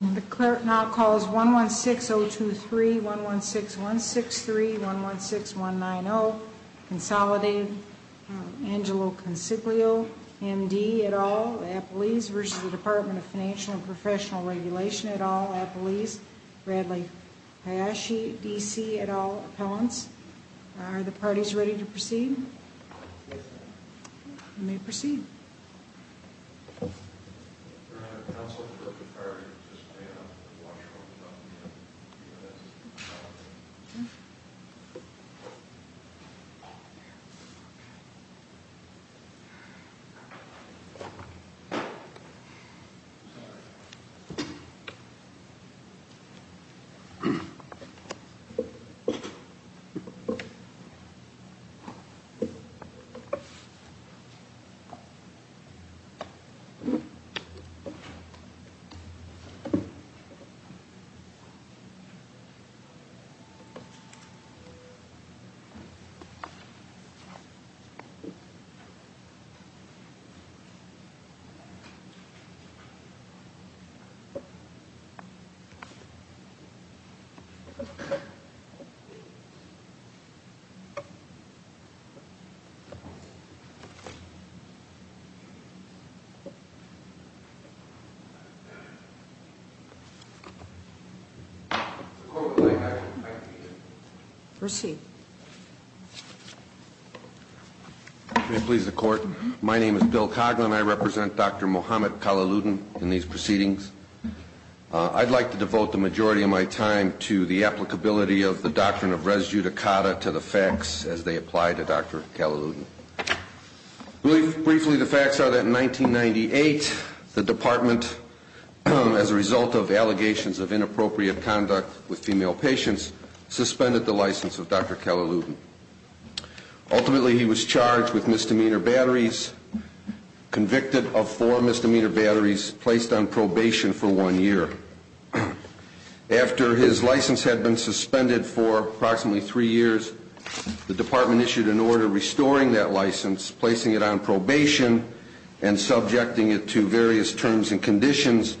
The clerk now calls 116023, 116163, 116190, Consolidated, Angelo Consiglio, M.D. et al., Appellees v. Department of Financial and Professional Regulation et al., Appellees, Bradley Hayashi, D.C. et al., Appellants. Are the parties ready to proceed? You may proceed. We're going to have counsel for a comparator to just weigh up the washrooms on the U.S. Capitol. Thank you. Proceed. May it please the Court, my name is Bill Coughlin, I represent Dr. Mohammed Kalaluddin in these proceedings. I'd like to devote the majority of my time to the applicability of the doctrine of res judicata to the facts as they apply to Dr. Kalaluddin. Briefly, the facts are that in 1998, the Department, as a result of allegations of inappropriate conduct with female patients, suspended the license of Dr. Kalaluddin. Ultimately, he was charged with misdemeanor batteries, convicted of four misdemeanor batteries, placed on probation for one year. After his license had been suspended for approximately three years, the Department issued an order restoring that license, placing it on probation, and subjecting it to various terms and conditions,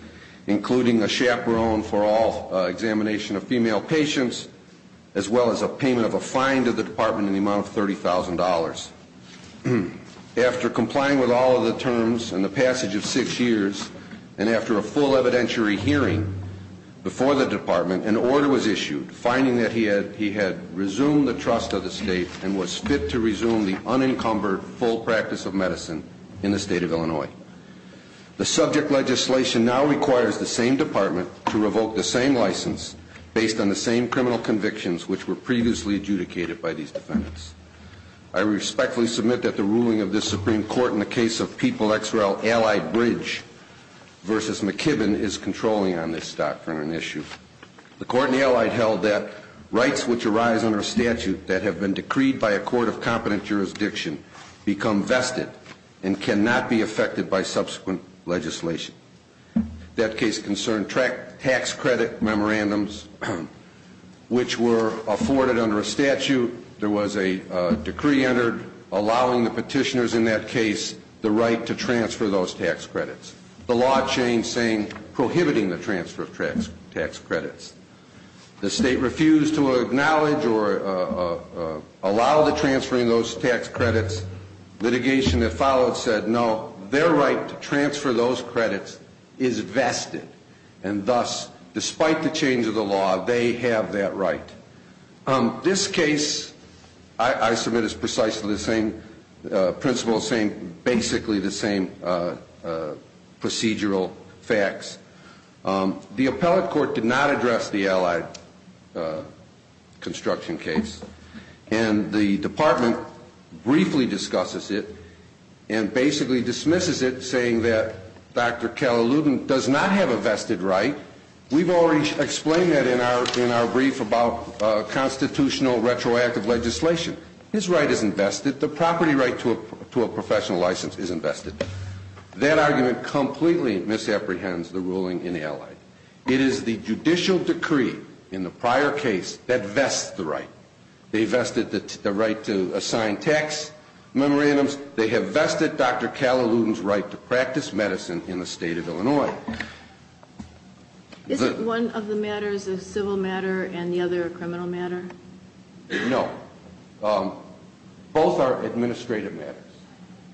including a chaperone for all examination of female patients, as well as a payment of a fine to the Department in the amount of $30,000. After complying with all of the terms and the passage of six years, and after a full evidentiary hearing before the Department, an order was issued, finding that he had resumed the trust of the State and was fit to resume the unencumbered full practice of medicine in the State of Illinois. The subject legislation now requires the same Department to revoke the same license based on the same criminal convictions which were previously adjudicated by these defendants. I respectfully submit that the ruling of this Supreme Court in the case of People-X-Rail-Allied-Bridge v. McKibben is controlling on this doctrine and issue. The Court in the Allied held that rights which arise under statute that have been decreed by a court of competent jurisdiction become vested and cannot be affected by subsequent legislation. That case concerned tax credit memorandums which were afforded under a statute. There was a decree entered allowing the petitioners in that case the right to transfer those tax credits. The law changed saying prohibiting the transfer of tax credits. The State refused to acknowledge or allow the transferring of those tax credits. Litigation that followed said no, their right to transfer those credits is vested and thus, despite the change of the law, they have that right. This case, I submit, is precisely the same principle, basically the same procedural facts. The Appellate Court did not address the Allied construction case and the Department briefly discusses it and basically dismisses it saying that Dr. Calhoun does not have a vested right. We've already explained that in our brief about constitutional retroactive legislation. His right is invested. The property right to a professional license is invested. That argument completely misapprehends the ruling in Allied. It is the judicial decree in the prior case that vests the right. They vested the right to assign tax memorandums. They have vested Dr. Calhoun's right to practice medicine in the State of Illinois. Isn't one of the matters a civil matter and the other a criminal matter? No. Both are administrative matters.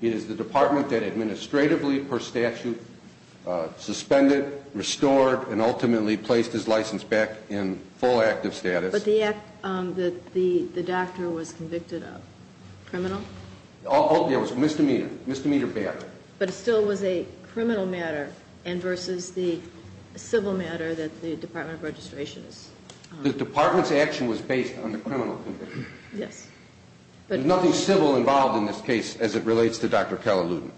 It is the Department that administratively, per statute, suspended, restored, and ultimately placed his license back in full active status. But the act that the doctor was convicted of, criminal? It was misdemeanor, misdemeanor bad. But it still was a criminal matter and versus the civil matter that the Department of Registration is. The Department's action was based on the criminal conviction. Yes. But nothing civil involved in this case as it relates to Dr. Calhoun.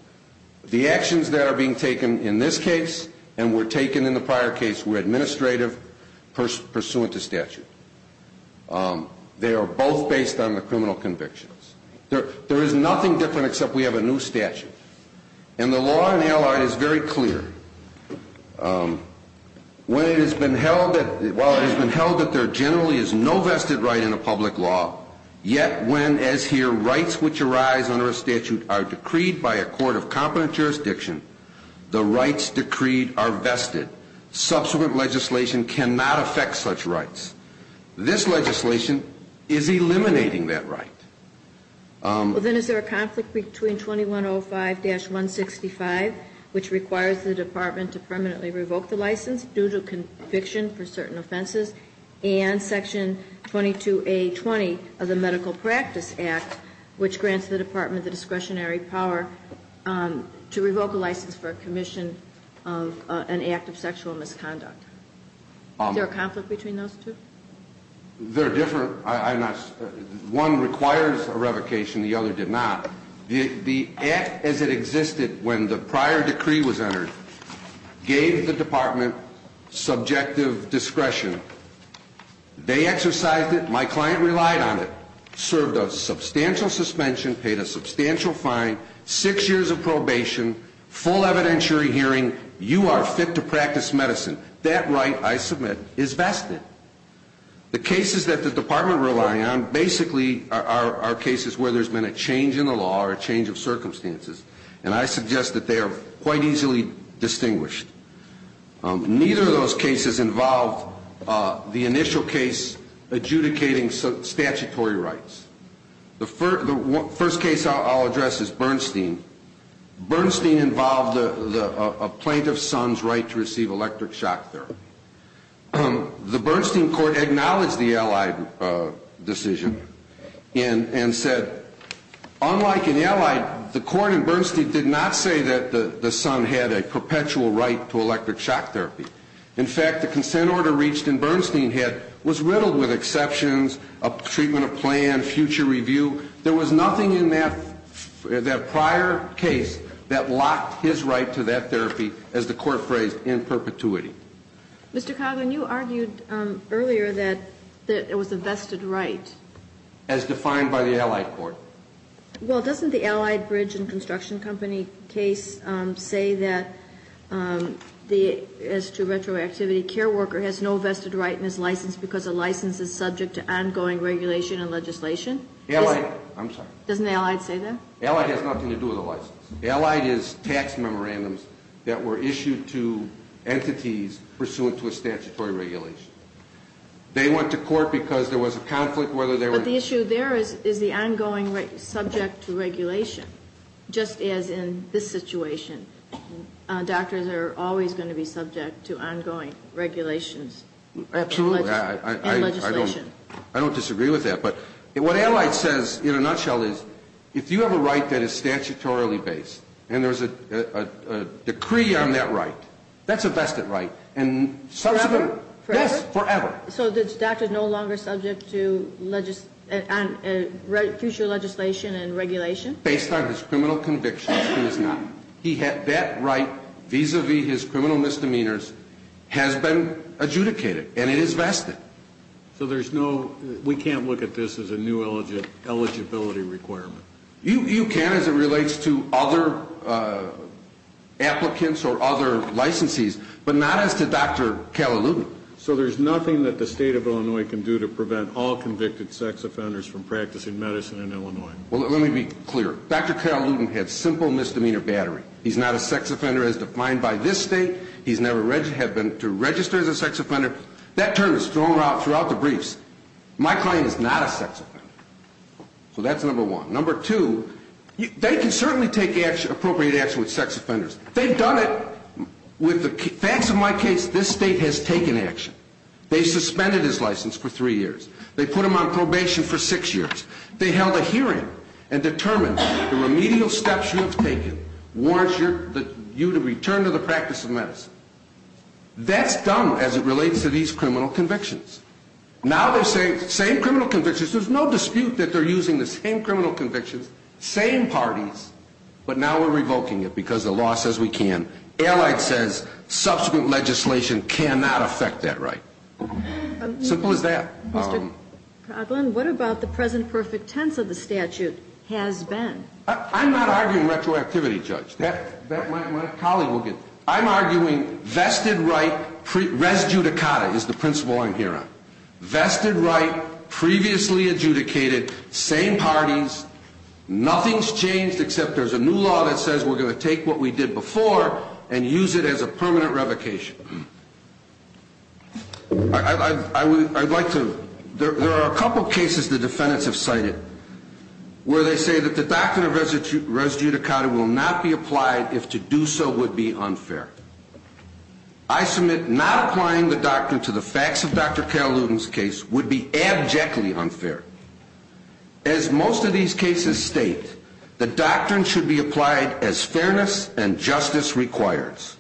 The actions that are being taken in this case and were taken in the prior case were administrative pursuant to statute. They are both based on the criminal convictions. There is nothing different except we have a new statute. And the law in Allied is very clear. While it has been held that there generally is no vested right in a public law, yet when, as here, rights which arise under a statute are decreed by a court of competent jurisdiction, the rights decreed are vested. Subsequent legislation cannot affect such rights. This legislation is eliminating that right. Well, then, is there a conflict between 2105-165, which requires the Department to permanently revoke the license due to conviction for certain offenses, and Section 22A20 of the Medical Practice Act, which grants the Department the discretionary power to revoke a license for commission of an act of sexual misconduct? Is there a conflict between those two? They're different. One requires a revocation. The other did not. The act as it existed when the prior decree was entered gave the Department subjective discretion. They exercised it. My client relied on it. Served a substantial suspension. Paid a substantial fine. Six years of probation. Full evidentiary hearing. You are fit to practice medicine. That right, I submit, is vested. The cases that the Department relied on basically are cases where there's been a change in the law or a change of circumstances, and I suggest that they are quite easily distinguished. Neither of those cases involved the initial case adjudicating statutory rights. The first case I'll address is Bernstein. Bernstein involved a plaintiff's son's right to receive electric shock therapy. The Bernstein court acknowledged the Allied decision and said, unlike in Allied, the court in Bernstein did not say that the son had a perpetual right to electric shock therapy. In fact, the consent order reached in Bernstein was riddled with exceptions, a treatment of plan, future review. There was nothing in that prior case that locked his right to that therapy, as the court phrased, in perpetuity. Mr. Coggan, you argued earlier that it was a vested right. As defined by the Allied court. Well, doesn't the Allied bridge and construction company case say that as to retroactivity, care worker has no vested right and is licensed because a license is subject to ongoing regulation and legislation? I'm sorry. Doesn't Allied say that? Allied has nothing to do with a license. Allied is tax memorandums that were issued to entities pursuant to a statutory regulation. They went to court because there was a conflict whether they were. But the issue there is the ongoing subject to regulation, just as in this situation. Doctors are always going to be subject to ongoing regulations. Absolutely. And legislation. I don't disagree with that. But what Allied says in a nutshell is if you have a right that is statutorily based and there's a decree on that right, that's a vested right. Forever? Yes, forever. So the doctor is no longer subject to future legislation and regulation? Based on his criminal convictions, he is not. That right vis-a-vis his criminal misdemeanors has been adjudicated, and it is vested. So there's no, we can't look at this as a new eligibility requirement? You can as it relates to other applicants or other licensees, but not as to Dr. Calhoun. So there's nothing that the state of Illinois can do to prevent all convicted sex offenders from practicing medicine in Illinois? Well, let me be clear. Dr. Calhoun had simple misdemeanor battery. He's not a sex offender as defined by this state. He's never had to register as a sex offender. That term is thrown out throughout the briefs. My client is not a sex offender. So that's number one. Number two, they can certainly take appropriate action with sex offenders. They've done it with the facts of my case, this state has taken action. They suspended his license for three years. They put him on probation for six years. They held a hearing and determined the remedial steps you have taken warrant you to return to the practice of medicine. That's done as it relates to these criminal convictions. Now they're saying same criminal convictions. There's no dispute that they're using the same criminal convictions, same parties, but now we're revoking it because the law says we can. Allied says subsequent legislation cannot affect that right. Simple as that. Mr. Coughlin, what about the present perfect tense of the statute has been? I'm not arguing retroactivity, Judge. I'm arguing vested right, res judicata is the principle I'm here on. Vested right, previously adjudicated, same parties, nothing's changed except there's a new law that says we're going to take what we did before and use it as a permanent revocation. There are a couple cases the defendants have cited where they say that the doctrine of res judicata will not be applied if to do so would be unfair. I submit not applying the doctrine to the facts of Dr. Calhoun's case would be abjectly unfair. As most of these cases state, the doctrine should be applied as fairness and justice requires.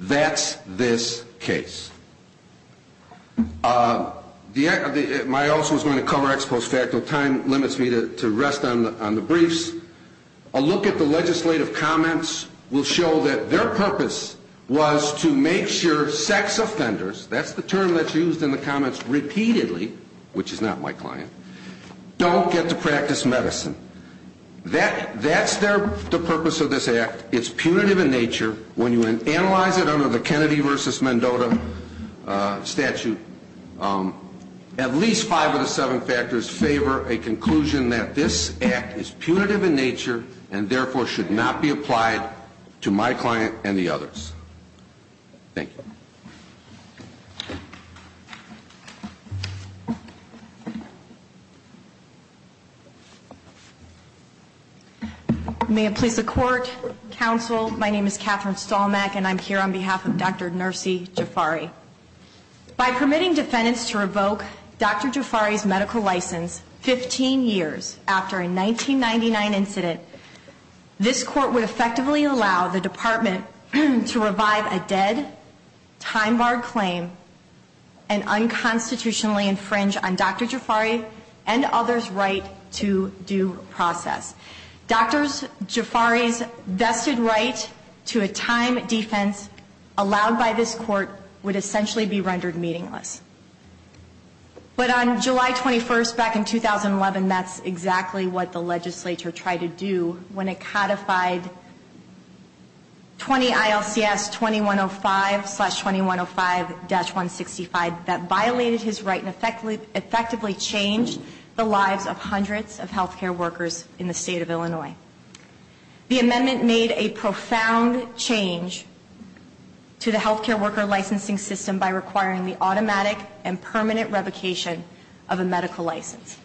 That's this case. My office was going to cover ex post facto. Time limits me to rest on the briefs. A look at the legislative comments will show that their purpose was to make sure sex offenders, that's the term that's used in the comments repeatedly, which is not my client, don't get to practice medicine. That's the purpose of this act. It's punitive in nature. When you analyze it under the Kennedy versus Mendota statute, at least five of the seven factors favor a conclusion that this act is punitive in nature and therefore should not be applied to my client and the others. Thank you. May it please the court, counsel, my name is Catherine Stolmack and I'm here on behalf of Dr. Nursi Jafari. By permitting defendants to revoke Dr. Jafari's medical license 15 years after a 1999 incident, this court would effectively allow the department to revive a dead, time-barred claim and unconstitutionally infringe on Dr. Jafari and others' right to due process. Dr. Jafari's vested right to a time defense allowed by this court would essentially be rendered meaningless. But on July 21st, back in 2011, that's exactly what the legislature tried to do when it codified 20 ILCS 2105 slash 2105-165 that violated his right and effectively changed the lives of hundreds of healthcare workers in the state of Illinois. The amendment made a profound change to the healthcare worker licensing system by requiring the automatic and permanent revocation of a medical license.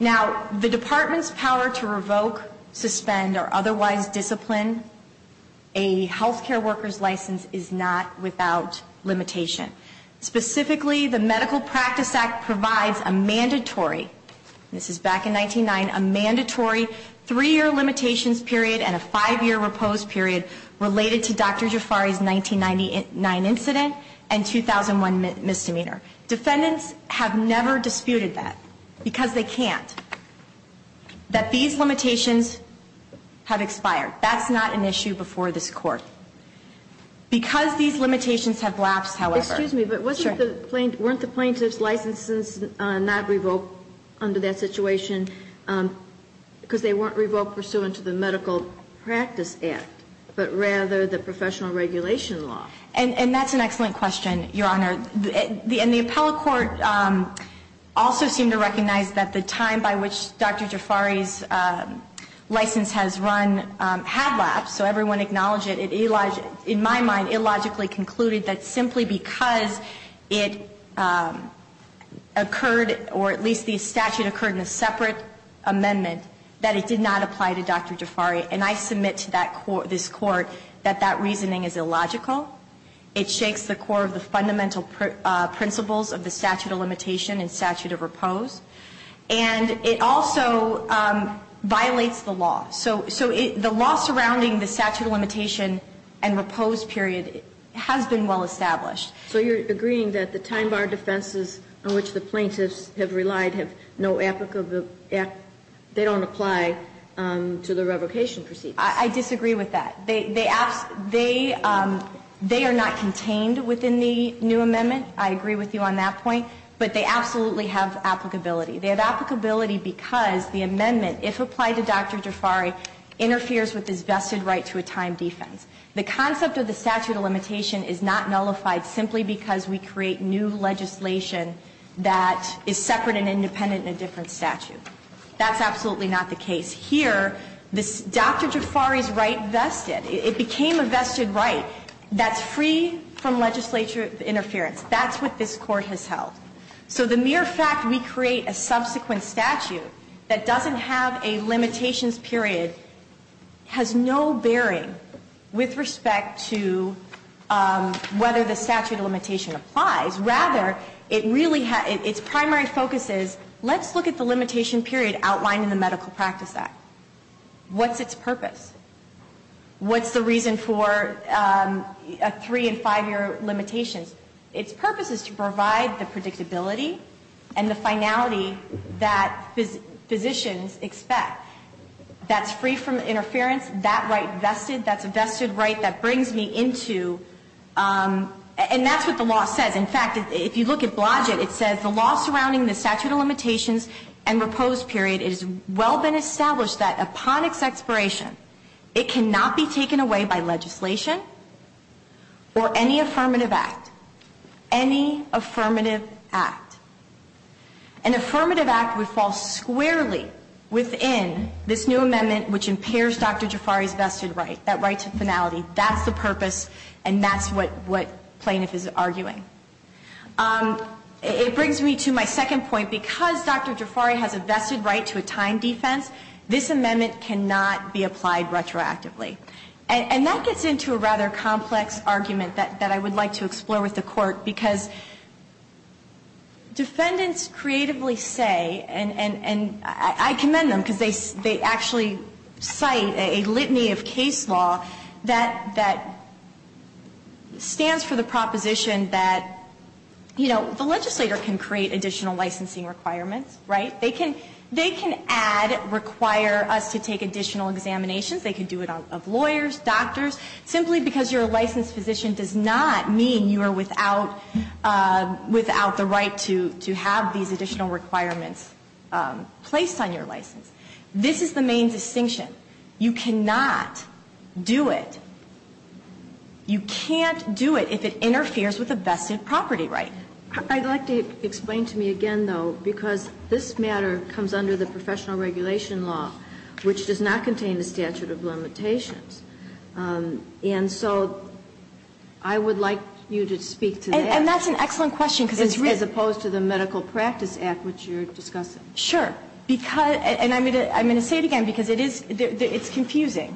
Now, the department's power to revoke, suspend, or otherwise discipline a healthcare worker's license is not without limitation. Specifically, the Medical Practice Act provides a mandatory, this is back in 1999, a mandatory three-year limitations period and a five-year repose period related to Dr. Jafari's 1999 incident and 2001 misdemeanor. Defendants have never disputed that because they can't. That these limitations have expired. That's not an issue before this court. Because these limitations have lapsed, however. Excuse me, but weren't the plaintiff's licenses not revoked under that situation because they weren't revoked pursuant to the Medical Practice Act, but rather the professional regulation law? And that's an excellent question, Your Honor. And the appellate court also seemed to recognize that the time by which Dr. Jafari's license has run had lapsed, so everyone acknowledged it. In my mind, it illogically concluded that simply because it occurred, or at least the statute occurred in a separate amendment, that it did not apply to Dr. Jafari. And I submit to this court that that reasoning is illogical. It shakes the core of the fundamental principles of the statute of limitation and statute of repose. And it also violates the law. So the law surrounding the statute of limitation and repose period has been well established. So you're agreeing that the time bar defenses on which the plaintiffs have relied have no applicable, they don't apply to the revocation proceedings? I disagree with that. They are not contained within the new amendment. I agree with you on that point. But they absolutely have applicability. They have applicability because the amendment, if applied to Dr. Jafari, interferes with this vested right to a time defense. The concept of the statute of limitation is not nullified simply because we create new legislation that is separate and independent in a different statute. That's absolutely not the case. Here, Dr. Jafari's right vested. It became a vested right that's free from legislature interference. That's what this court has held. So the mere fact we create a subsequent statute that doesn't have a limitations period has no bearing with respect to whether the statute of limitation applies. Rather, its primary focus is let's look at the limitation period outlined in the Medical Practice Act. What's its purpose? What's the reason for a three and five-year limitation? Its purpose is to provide the predictability and the finality that physicians expect. That's free from interference. That right vested. That's a vested right that brings me into. And that's what the law says. In fact, if you look at Blodgett, it says the law surrounding the statute of limitations and repose period, it has well been established that upon its expiration, it cannot be taken away by legislation or any affirmative act. Any affirmative act. An affirmative act would fall squarely within this new amendment which impairs Dr. Jafari's vested right, that right to finality. That's the purpose. And that's what plaintiff is arguing. It brings me to my second point. Because Dr. Jafari has a vested right to a time defense, this amendment cannot be applied retroactively. And that gets into a rather complex argument that I would like to explore with the Court. Because defendants creatively say, and I commend them because they actually cite a litany of case law that stands for the proposition that, you know, the legislator can create additional licensing requirements, right? They can add, require us to take additional examinations. They can do it of lawyers, doctors. Simply because you're a licensed physician does not mean you are without the right to have these additional requirements placed on your license. This is the main distinction. You cannot do it. You can't do it if it interferes with a vested property right. I'd like to explain to me again, though, because this matter comes under the professional regulation law, which does not contain the statute of limitations. And so I would like you to speak to that. And that's an excellent question. As opposed to the Medical Practice Act, which you're discussing. Sure. And I'm going to say it again because it's confusing.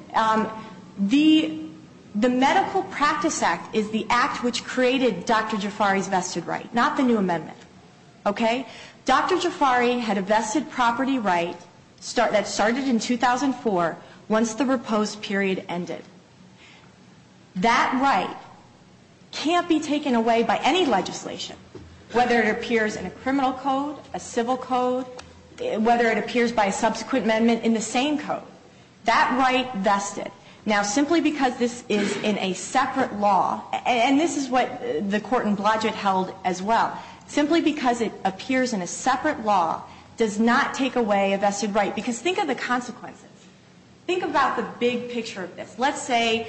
The Medical Practice Act is the act which created Dr. Jafari's vested right, not the new amendment. Okay? Dr. Jafari had a vested property right that started in 2004 once the repose period ended. That right can't be taken away by any legislation, whether it appears in a criminal code, a civil code, whether it appears by a subsequent amendment in the same code. That right vested. Now, simply because this is in a separate law, and this is what the Court in Blodgett held as well, simply because it appears in a separate law does not take away a vested right. Because think of the consequences. Think about the big picture of this. Let's say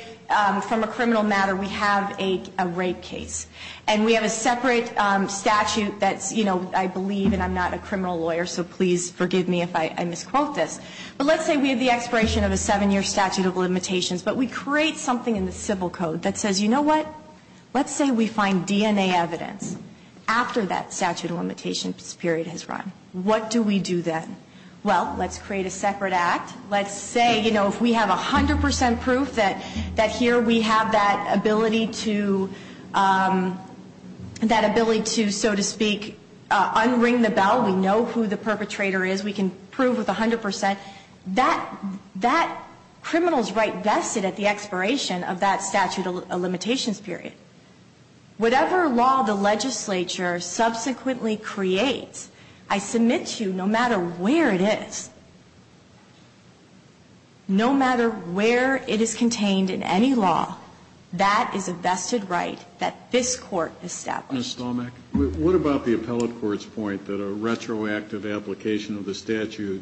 from a criminal matter we have a rape case. And we have a separate statute that's, you know, I believe, and I'm not a criminal lawyer, so please forgive me if I misquote this. But let's say we have the expiration of a seven-year statute of limitations, but we create something in the civil code that says, you know what? Let's say we find DNA evidence after that statute of limitations period has run. What do we do then? Well, let's create a separate act. Let's say, you know, if we have 100 percent proof that here we have that ability to, that ability to, so to speak, unring the bell. We know who the perpetrator is. We can prove with 100 percent. But that criminal's right vested at the expiration of that statute of limitations period. Whatever law the legislature subsequently creates, I submit to you no matter where it is, no matter where it is contained in any law, that is a vested right that this Court established. Mr. Stolmach? What about the appellate court's point that a retroactive application of the statute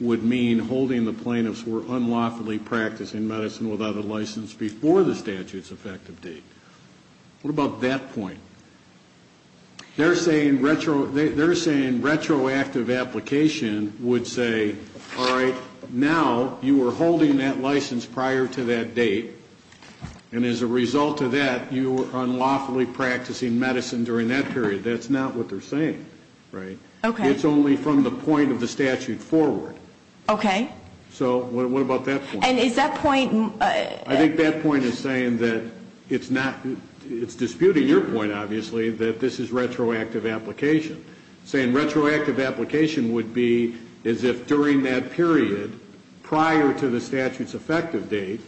would mean holding the plaintiffs who are unlawfully practicing medicine without a license before the statute's effective date? What about that point? They're saying retroactive application would say, all right, now you were holding that license prior to that date, and as a result of that, you were unlawfully practicing medicine during that period. That's not what they're saying, right? Okay. It's only from the point of the statute forward. Okay. So what about that point? And is that point? I think that point is saying that it's not, it's disputing your point, obviously, that this is retroactive application. Saying retroactive application would be as if during that period, prior to the statute's effective date,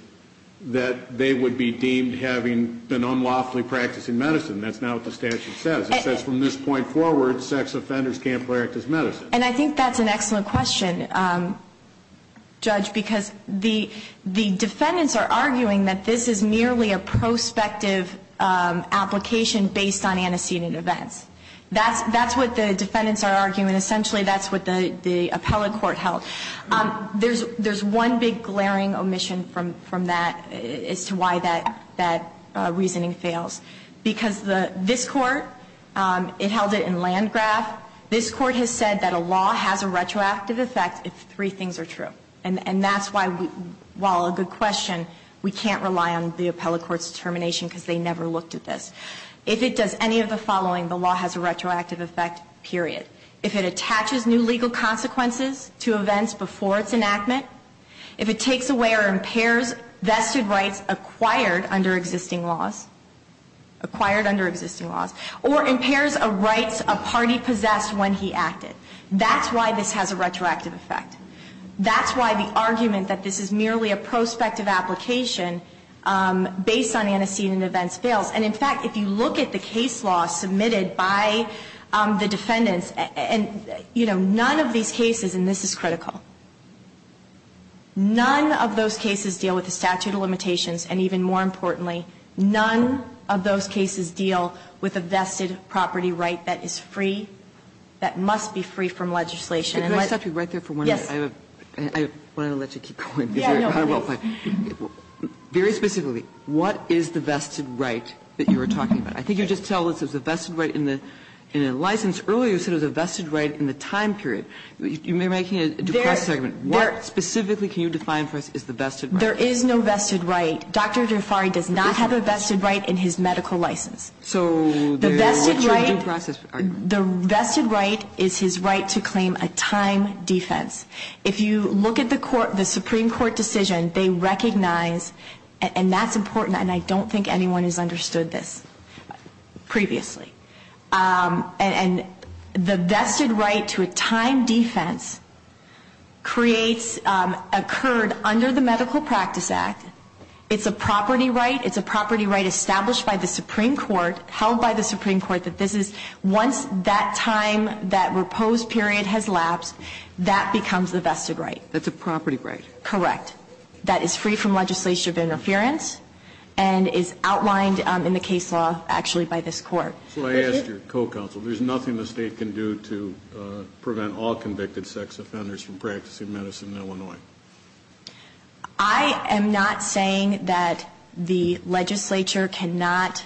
that they would be deemed having been unlawfully practicing medicine. That's not what the statute says. It says from this point forward, sex offenders can't practice medicine. And I think that's an excellent question, Judge, because the defendants are arguing that this is merely a prospective application based on antecedent events. That's what the defendants are arguing. Essentially, that's what the appellate court held. There's one big glaring omission from that as to why that reasoning fails. Because this Court, it held it in Landgraf. This Court has said that a law has a retroactive effect if three things are true. And that's why, while a good question, we can't rely on the appellate court's determination because they never looked at this. If it does any of the following, the law has a retroactive effect, period. If it attaches new legal consequences to events before its enactment, if it takes away or impairs vested rights acquired under existing laws, acquired under existing laws, or impairs a rights a party possessed when he acted. That's why this has a retroactive effect. That's why the argument that this is merely a prospective application based on antecedent events fails. And, in fact, if you look at the case law submitted by the defendants, and, you know, none of these cases, and this is critical, none of those cases deal with the statute of limitations. And even more importantly, none of those cases deal with a vested property right that is free, that must be free from legislation. And let's be right there for one minute. Yes. I want to let you keep going. Yeah, no, please. Very specifically, what is the vested right that you are talking about? I think you just tell us it's a vested right in a license. Earlier you said it was a vested right in the time period. You may be making a due process argument. What specifically can you define for us is the vested right? There is no vested right. Dr. Jafari does not have a vested right in his medical license. So the vested right is his right to claim a time defense. If you look at the Supreme Court decision, they recognize, and that's important, and I don't think anyone has understood this previously, and the vested right to a time defense creates, occurred under the Medical Practice Act. It's a property right. It's a property right established by the Supreme Court, held by the Supreme That's a property right. Correct. That is free from legislation of interference and is outlined in the case law, actually, by this court. So I asked your co-counsel, there's nothing the state can do to prevent all convicted sex offenders from practicing medicine in Illinois? I am not saying that the legislature cannot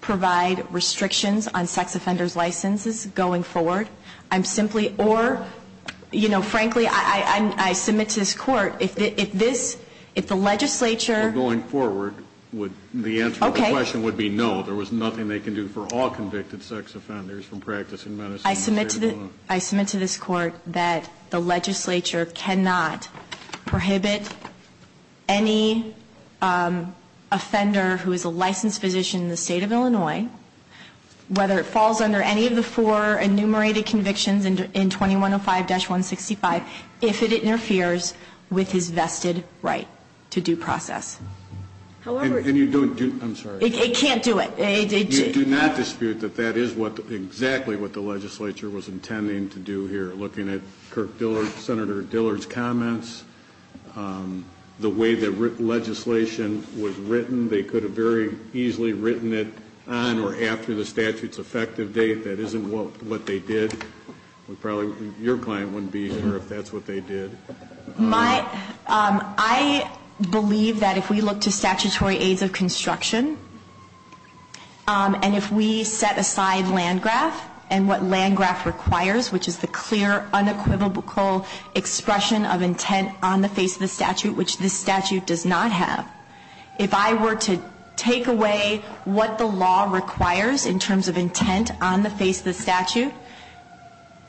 provide restrictions on sex offenders' licenses going forward. I'm simply, or, you know, frankly, I submit to this court, if this, if the legislature Going forward, the answer to the question would be no. There was nothing they could do for all convicted sex offenders from practicing medicine in the state of Illinois. I submit to this court that the legislature cannot prohibit any offender who is a licensed physician in the state of Illinois, whether it falls under any of the four enumerated convictions in 2105-165, if it interferes with his vested right to due process. However And you don't do, I'm sorry It can't do it. You do not dispute that that is exactly what the legislature was intending to do Looking at Kirk Dillard, Senator Dillard's comments, the way that legislation was written, they could have very easily written it on or after the statute's effective date. That isn't what they did. We probably, your client wouldn't be here if that's what they did. My, I believe that if we look to statutory aids of construction, and if we set aside Landgraf and what Landgraf requires, which is the clear unequivocal expression of intent on the face of the statute, which this statute does not have, if I were to take away what the law requires in terms of intent on the face of the statute,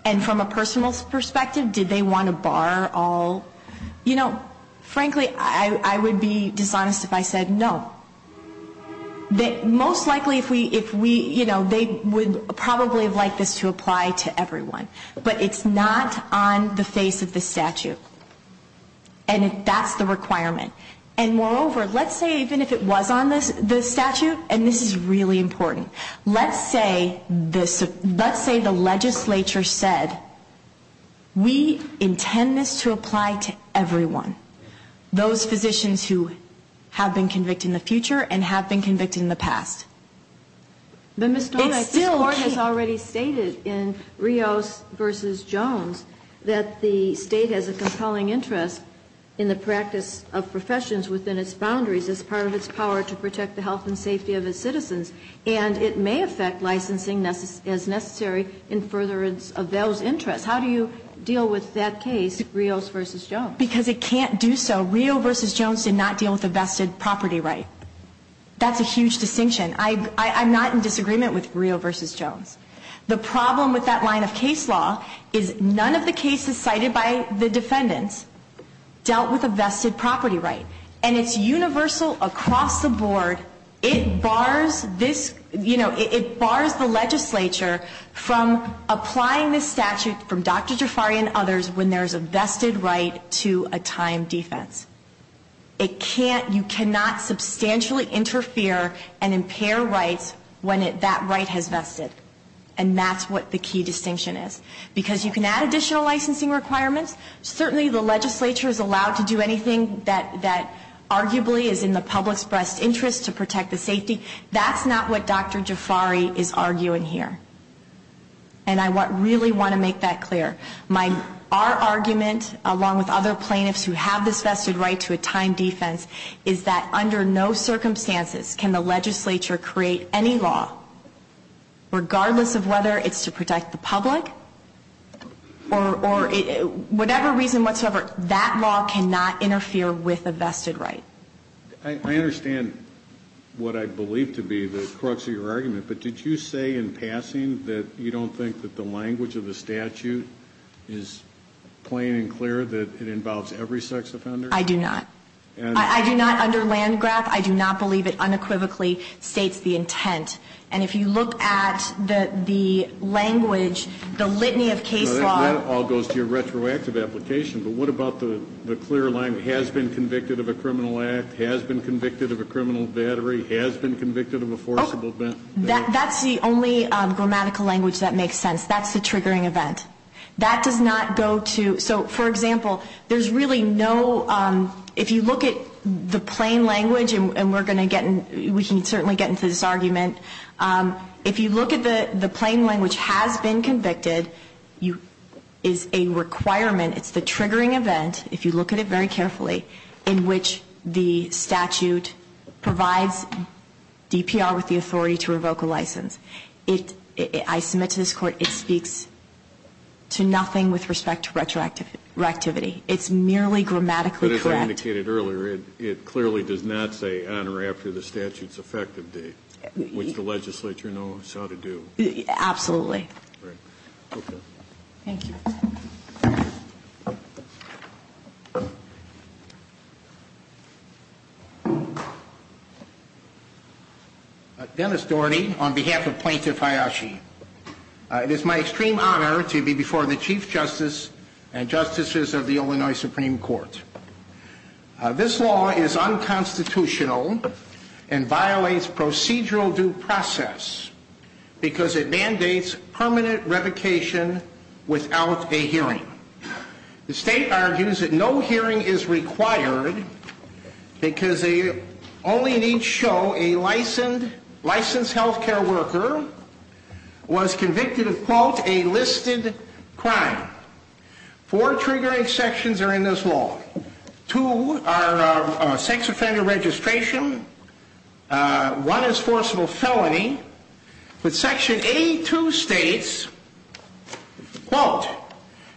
and from a personal perspective, did they want to bar all, you know, frankly, I would be dishonest if I said no. Most likely if we, you know, they would probably have liked this to apply to everyone. But it's not on the face of the statute. And that's the requirement. And moreover, let's say even if it was on the statute, and this is really important, let's say this, let's say the legislature said, we intend this to apply to everyone. Those physicians who have been convicted in the future and have been convicted in the past. It still can't. But Ms. Dorn, I think the Court has already stated in Rios v. Jones that the boundaries as part of its power to protect the health and safety of its citizens. And it may affect licensing as necessary in furtherance of those interests. How do you deal with that case, Rios v. Jones? Because it can't do so. Rios v. Jones did not deal with a vested property right. That's a huge distinction. I'm not in disagreement with Rios v. Jones. The problem with that line of case law is none of the cases cited by the defendants dealt with a vested property right. And it's universal across the board. It bars this, you know, it bars the legislature from applying this statute from Dr. Jafari and others when there's a vested right to a time defense. It can't, you cannot substantially interfere and impair rights when that right has vested. And that's what the key distinction is. Because you can add additional licensing requirements. Certainly the legislature is allowed to do anything that arguably is in the public's best interest to protect the safety. That's not what Dr. Jafari is arguing here. And I really want to make that clear. Our argument, along with other plaintiffs who have this vested right to a time defense, is that under no circumstances can the legislature create any law, regardless of whether it's to protect the public or whatever reason whatsoever, that law cannot interfere with a vested right. I understand what I believe to be the crux of your argument. But did you say in passing that you don't think that the language of the statute is plain and clear that it involves every sex offender? I do not. I do not, under Landgraf, I do not believe it unequivocally states the intent. And if you look at the language, the litany of case law That all goes to your retroactive application. But what about the clear language, has been convicted of a criminal act, has been convicted of a criminal battery, has been convicted of a forcible event? That's the only grammatical language that makes sense. That's the triggering event. That does not go to, so for example, there's really no, if you look at the plain language, and we're going to get, we can certainly get into this argument. If you look at the plain language, has been convicted, is a requirement, it's the triggering event, if you look at it very carefully, in which the statute provides DPR with the authority to revoke a license. I submit to this Court, it speaks to nothing with respect to retroactivity. It's merely grammatically correct. As you indicated earlier, it clearly does not say honor after the statute's effective date, which the legislature knows how to do. Absolutely. Right. Okay. Thank you. Dennis Doherty, on behalf of Plaintiff Hayashi. It is my extreme honor to be before the Chief Justice and Justices of the Illinois Supreme Court. This law is unconstitutional and violates procedural due process because it mandates permanent revocation without a hearing. The state argues that no hearing is required because they only need to show a licensed healthcare worker was convicted of, quote, a listed crime. Four triggering sections are in this law. Two are sex offender registration. One is forcible felony. But Section 82 states, quote,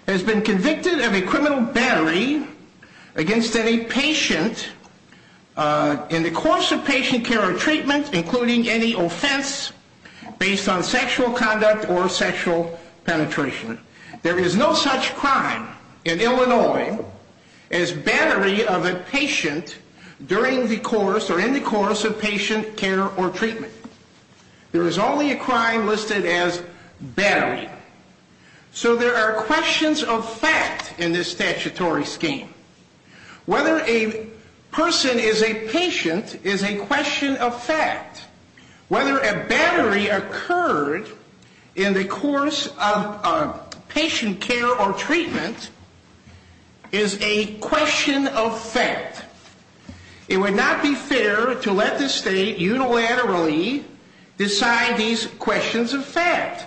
has been convicted of a criminal battery against any patient in the course of patient care or treatment, including any offense based on sexual conduct or sexual penetration. There is no such crime in Illinois as battery of a patient during the course or in the course of patient care or treatment. There is only a crime listed as battery. So there are questions of fact in this statutory scheme. Whether a person is a patient is a question of fact. Whether a battery occurred in the course of patient care or treatment is a question of fact. It would not be fair to let the state unilaterally decide these questions of fact.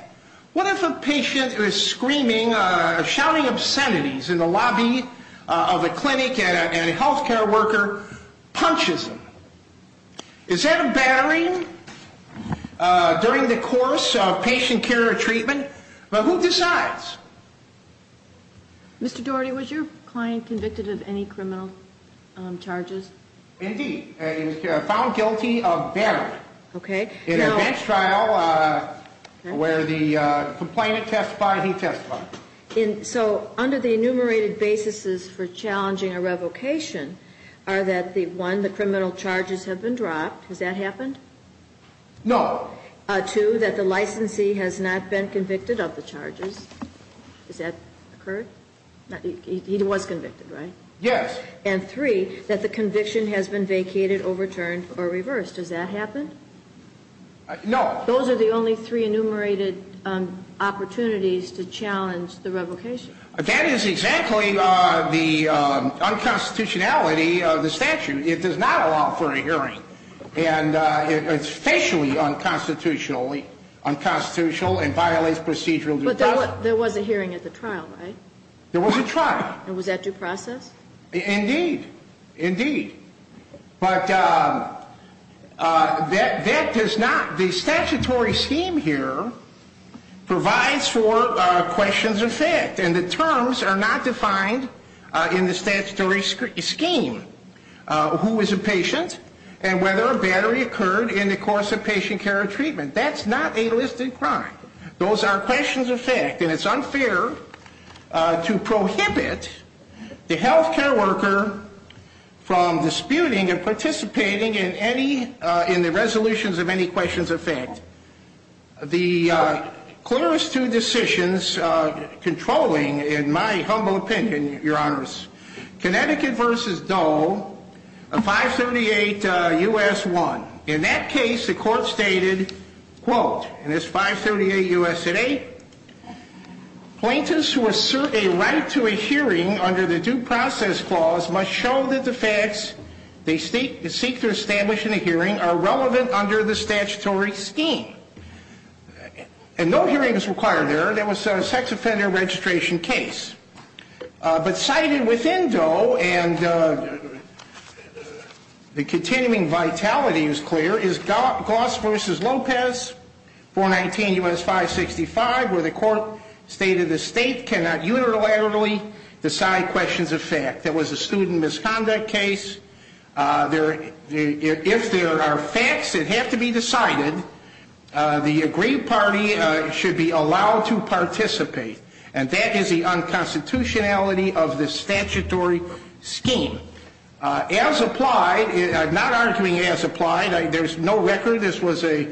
What if a patient is screaming, shouting obscenities in the lobby of a clinic and a healthcare worker punches them? Is that a battery during the course of patient care or treatment? But who decides? Mr. Doherty, was your client convicted of any criminal charges? Indeed. He was found guilty of battery. Okay. In a bench trial where the complainant testified, he testified. So under the enumerated basis for challenging a revocation are that the one, the criminal charges have been dropped. Has that happened? No. Two, that the licensee has not been convicted of the charges. Has that occurred? He was convicted, right? Yes. And three, that the conviction has been vacated, overturned, or reversed. Has that happened? No. Those are the only three enumerated opportunities to challenge the revocation. That is exactly the unconstitutionality of the statute. It does not allow for a hearing. And it's facially unconstitutional and violates procedural due process. But there was a hearing at the trial, right? There was a trial. And was that due process? Indeed. Indeed. But that does not, the statutory scheme here provides for questions of fact. And the terms are not defined in the statutory scheme. Who is a patient and whether a battery occurred in the course of patient care and treatment. That's not a listed crime. Those are questions of fact. And it's unfair to prohibit the health care worker from disputing and participating in the resolutions of any questions of fact. The clearest two decisions controlling, in my humble opinion, Your Honors, Connecticut v. Dole, 538 U.S. 1. In that case, the court stated, quote, and it's 538 U.S. 8, plaintiffs who assert a right to a hearing under the due process clause must show that the facts they seek to establish in a hearing are relevant under the statutory scheme. And no hearing is required there. That was a sex offender registration case. But cited within Dole, and the continuing vitality is clear, is Goss v. Lopez, 419 U.S. 565, where the court stated the state cannot unilaterally decide questions of fact. That was a student misconduct case. If there are facts that have to be decided, the agreed party should be allowed to participate. And that is the unconstitutionality of the statutory scheme. As applied, I'm not arguing as applied. There's no record. This was a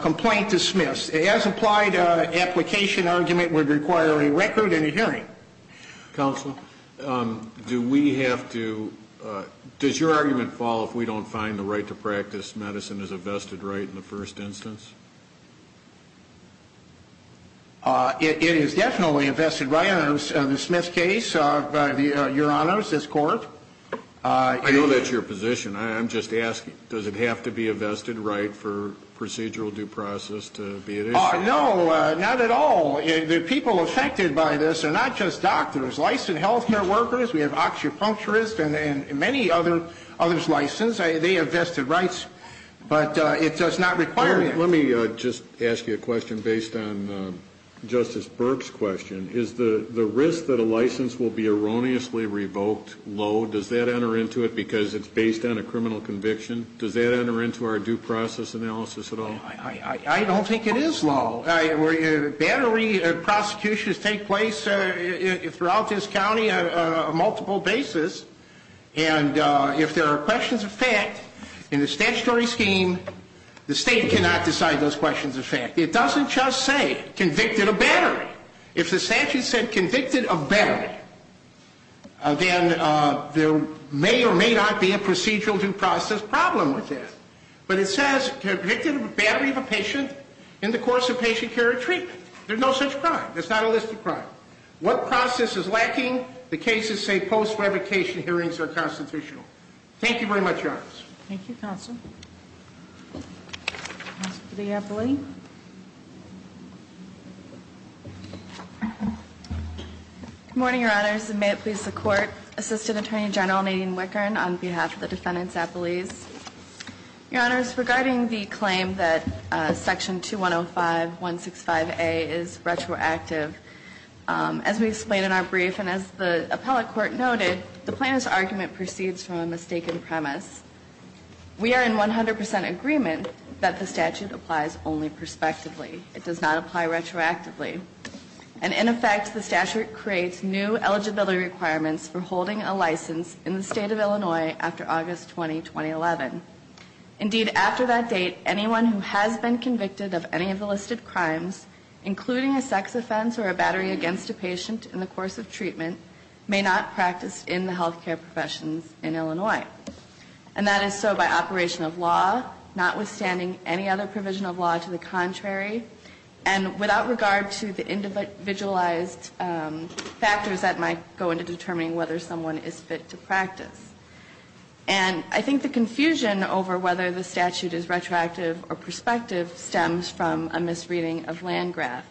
complaint dismissed. As applied, an application argument would require a record and a hearing. Counsel, do we have to, does your argument fall if we don't find the right to practice medicine as a vested right in the first instance? It is definitely a vested right. In the Smith case, Your Honors, this court. I know that's your position. I'm just asking, does it have to be a vested right for procedural due process to be at issue? No, not at all. The people affected by this are not just doctors, licensed health care workers. We have oxypuncturists and many others licensed. They have vested rights. But it does not require it. Let me just ask you a question based on Justice Burke's question. Is the risk that a license will be erroneously revoked low? Does that enter into it because it's based on a criminal conviction? Does that enter into our due process analysis at all? I don't think it is low. Battery prosecutions take place throughout this county on a multiple basis. And if there are questions of fact in the statutory scheme, the state cannot decide those questions of fact. It doesn't just say convicted of battery. If the statute said convicted of battery, then there may or may not be a procedural due process problem with that. But it says convicted of battery of a patient in the course of patient care or treatment. There's no such crime. There's not a list of crime. What process is lacking? The cases say post-revocation hearings are constitutional. Thank you very much, Your Honors. Thank you, Counsel. Counsel to the appellee. Good morning, Your Honors. And may it please the Court. Assistant Attorney General Nadine Wickern on behalf of the defendants' appellees. Your Honors, regarding the claim that Section 2105.165a is retroactive, as we explained in our brief and as the appellate court noted, the plaintiff's argument proceeds from a mistaken premise. We are in 100% agreement that the statute applies only prospectively. It does not apply retroactively. And in effect, the statute creates new eligibility requirements for holding a license in the state of Illinois after August 20, 2011. Indeed, after that date, anyone who has been convicted of any of the listed crimes, including a sex offense or a battery against a patient in the course of treatment, may not practice in the healthcare professions in Illinois. And that is so by operation of law, notwithstanding any other provision of law to the contrary, and without regard to the individualized factors that might go into determining whether someone is fit to practice. And I think the confusion over whether the statute is retroactive or prospective stems from a misreading of Landgraf.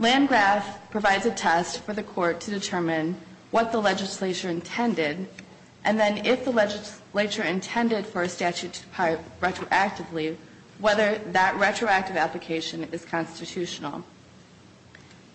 Landgraf provides a test for the Court to determine what the legislature intended, and then if the legislature intended for a statute to apply retroactively, whether that retroactive application is constitutional.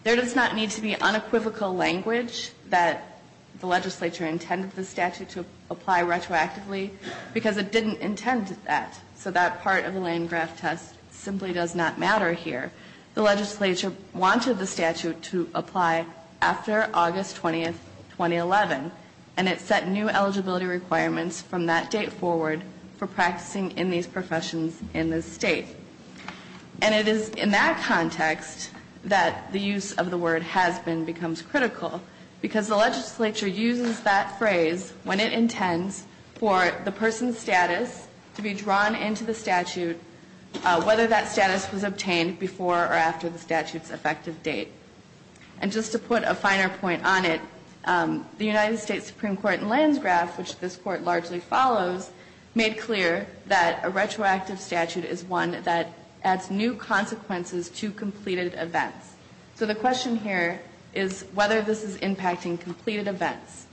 There does not need to be unequivocal language that the legislature intended the statute to apply retroactively, because it didn't intend that, so that part of the Landgraf test simply does not matter here. The legislature wanted the statute to apply after August 20, 2011, and it set new eligibility requirements from that date forward for practicing in these professions in the state. And it is in that context that the use of the word has been becomes critical, because the legislature uses that phrase when it intends for the person's status to be drawn into the statute, whether that status was obtained before or after the statute's effective date. And just to put a finer point on it, the United States Supreme Court in Landgraf, which this Court largely follows, made clear that a retroactive statute is one that adds new consequences to completed events. So the question here is whether this is impacting completed events.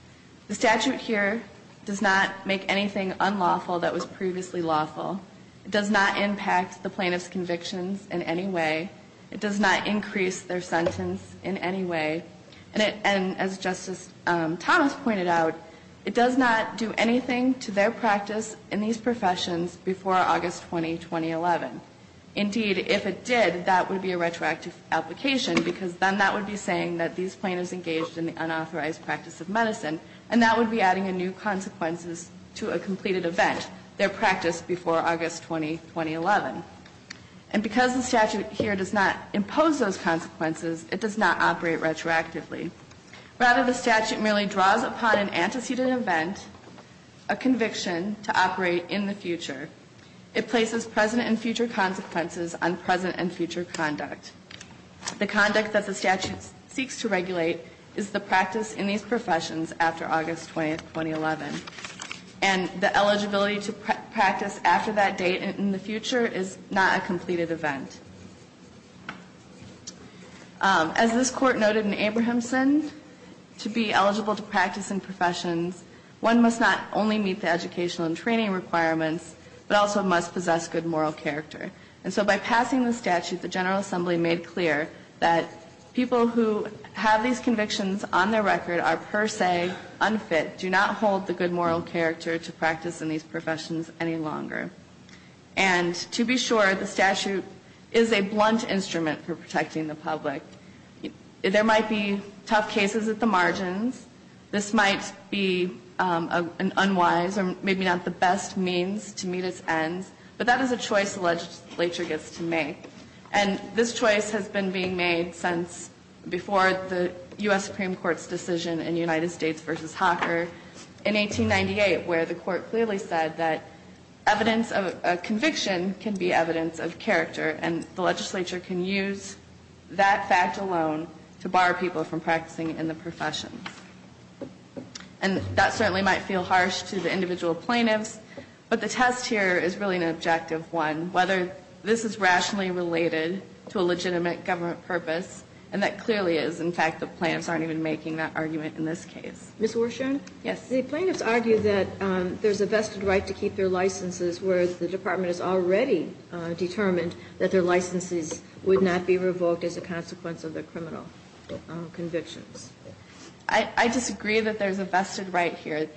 The statute here does not make anything unlawful that was previously lawful. It does not impact the plaintiff's convictions in any way. It does not increase their sentence in any way. And as Justice Thomas pointed out, it does not do anything to their practice in these professions before August 20, 2011. Indeed, if it did, that would be a retroactive application, because then that would be saying that these plaintiffs engaged in the unauthorized practice of medicine, and that would be adding new consequences to a completed event, their practice before August 20, 2011. And because the statute here does not impose those consequences, it does not operate retroactively. Rather, the statute merely draws upon an antecedent event, a conviction to operate in the future. It places present and future consequences on present and future conduct. The conduct that the statute seeks to regulate is the practice in these professions after August 20, 2011. And the eligibility to practice after that date in the future is not a completed event. As this Court noted in Abrahamson, to be eligible to practice in professions, one must not only meet the educational and training requirements, but also must possess good moral character. And so by passing the statute, the General Assembly made clear that people who have these convictions on their record are per se unfit, do not hold the good moral character to practice in these professions any longer. And to be sure, the statute is a blunt instrument for protecting the public. There might be tough cases at the margins, this might be an unwise or maybe not the best means to meet its ends, but that is a choice the legislature gets to make. And this choice has been being made since before the U.S. Supreme Court's decision in United States v. Hawker in 1898, where the Court clearly said that evidence of a conviction can be evidence of character, and the legislature can use that fact alone to bar people from practicing in the professions. And that certainly might feel harsh to the individual plaintiffs, but the test here is really an objective one, whether this is rationally related to a legitimate government purpose, and that clearly is, in fact, the plaintiffs aren't even making that argument in this case. Ms. Warshorn? Yes. The plaintiffs argue that there's a vested right to keep their licenses, whereas the Department has already determined that their licenses would not be revoked as a consequence of their criminal convictions. I disagree that there's a vested right here.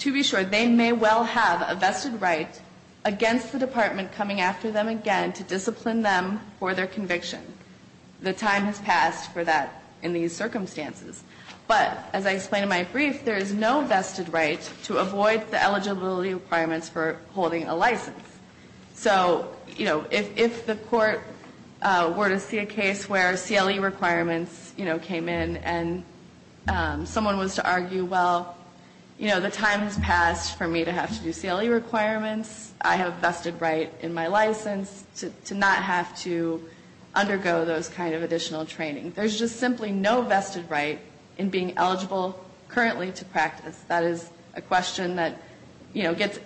To be sure, they may well have a vested right against the Department coming after them again to discipline them for their conviction. The time has passed for that in these circumstances. But, as I explained in my brief, there is no vested right to avoid the eligibility requirements for holding a license. So, you know, if the Court were to see a case where CLE requirements, you know, came in, and someone was to argue, well, you know, the time has passed for me to have to do CLE requirements. I have a vested right in my license to not have to undergo those kind of additional training. There's just simply no vested right in being eligible currently to practice. That is a question that, you know, gets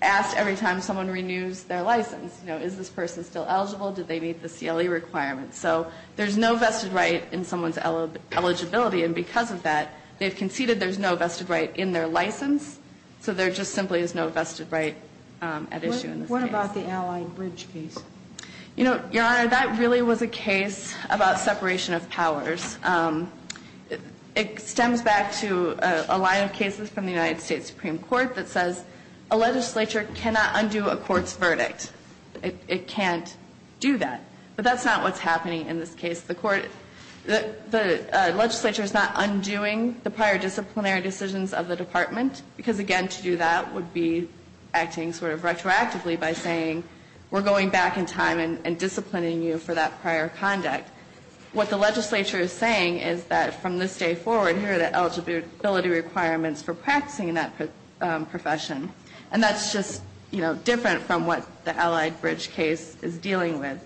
asked every time someone renews their license. You know, is this person still eligible? Did they meet the CLE requirements? So there's no vested right in someone's eligibility. And because of that, they've conceded there's no vested right in their license. So there just simply is no vested right at issue in this case. What about the Allied Bridge case? You know, Your Honor, that really was a case about separation of powers. It stems back to a line of cases from the United States Supreme Court that says a legislature cannot undo a court's verdict. It can't do that. But that's not what's happening in this case. The legislature is not undoing the prior disciplinary decisions of the Department, because, again, to do that would be acting sort of retroactively by saying we're going back in time and disciplining you for that prior conduct. What the legislature is saying is that from this day forward, here are the eligibility requirements for practicing in that profession. And that's just, you know, different from what the Allied Bridge case is dealing with.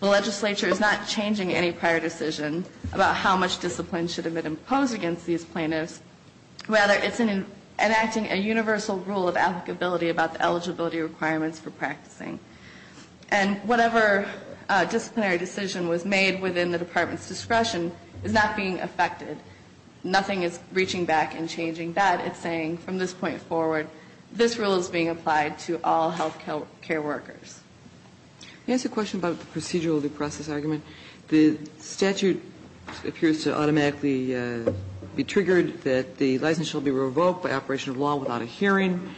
The legislature is not changing any prior decision about how much discipline should have been imposed against these plaintiffs. Rather, it's enacting a universal rule of applicability about the eligibility requirements for practicing. And whatever disciplinary decision was made within the Department's discretion is not being affected. Nothing is reaching back and changing that. It's saying from this point forward, this rule is being applied to all health care workers. May I ask a question about the procedural due process argument? The statute appears to automatically be triggered that the license shall be revoked by operation of law without a hearing,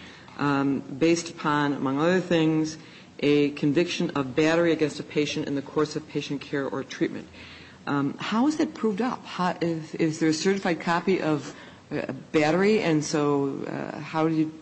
based upon, among other things, a conviction of battery against a patient in the course of patient care or treatment. How is that proved up? Is there a certified copy of battery? And so how do you,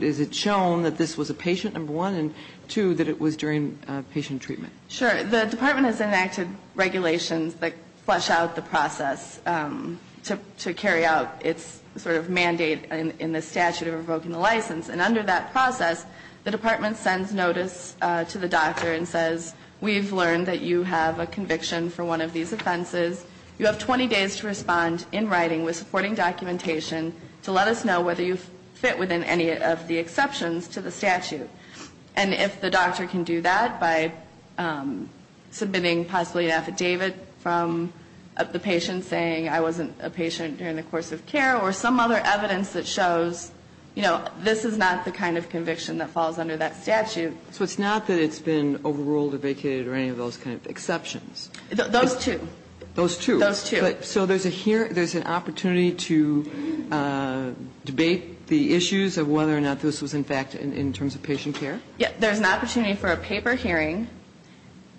is it shown that this was a patient, number one, and two, that it was during patient treatment? Sure. The Department has enacted regulations that flesh out the process to carry out its sort of mandate in the statute of revoking the license. And under that process, the Department sends notice to the doctor and says, we've learned that you have a conviction for one of these offenses. You have 20 days to respond in writing with supporting documentation to let us know whether you fit within any of the exceptions to the statute. And if the doctor can do that by submitting possibly an affidavit from the patient saying, I wasn't a patient during the course of care, or some other evidence that shows, you know, this is not the kind of conviction that falls under that statute. So it's not that it's been overruled or vacated or any of those kind of exceptions? Those two. Those two. So there's an opportunity to debate the issues of whether or not this was, in fact, in terms of patient care? Yeah. There's an opportunity for a paper hearing.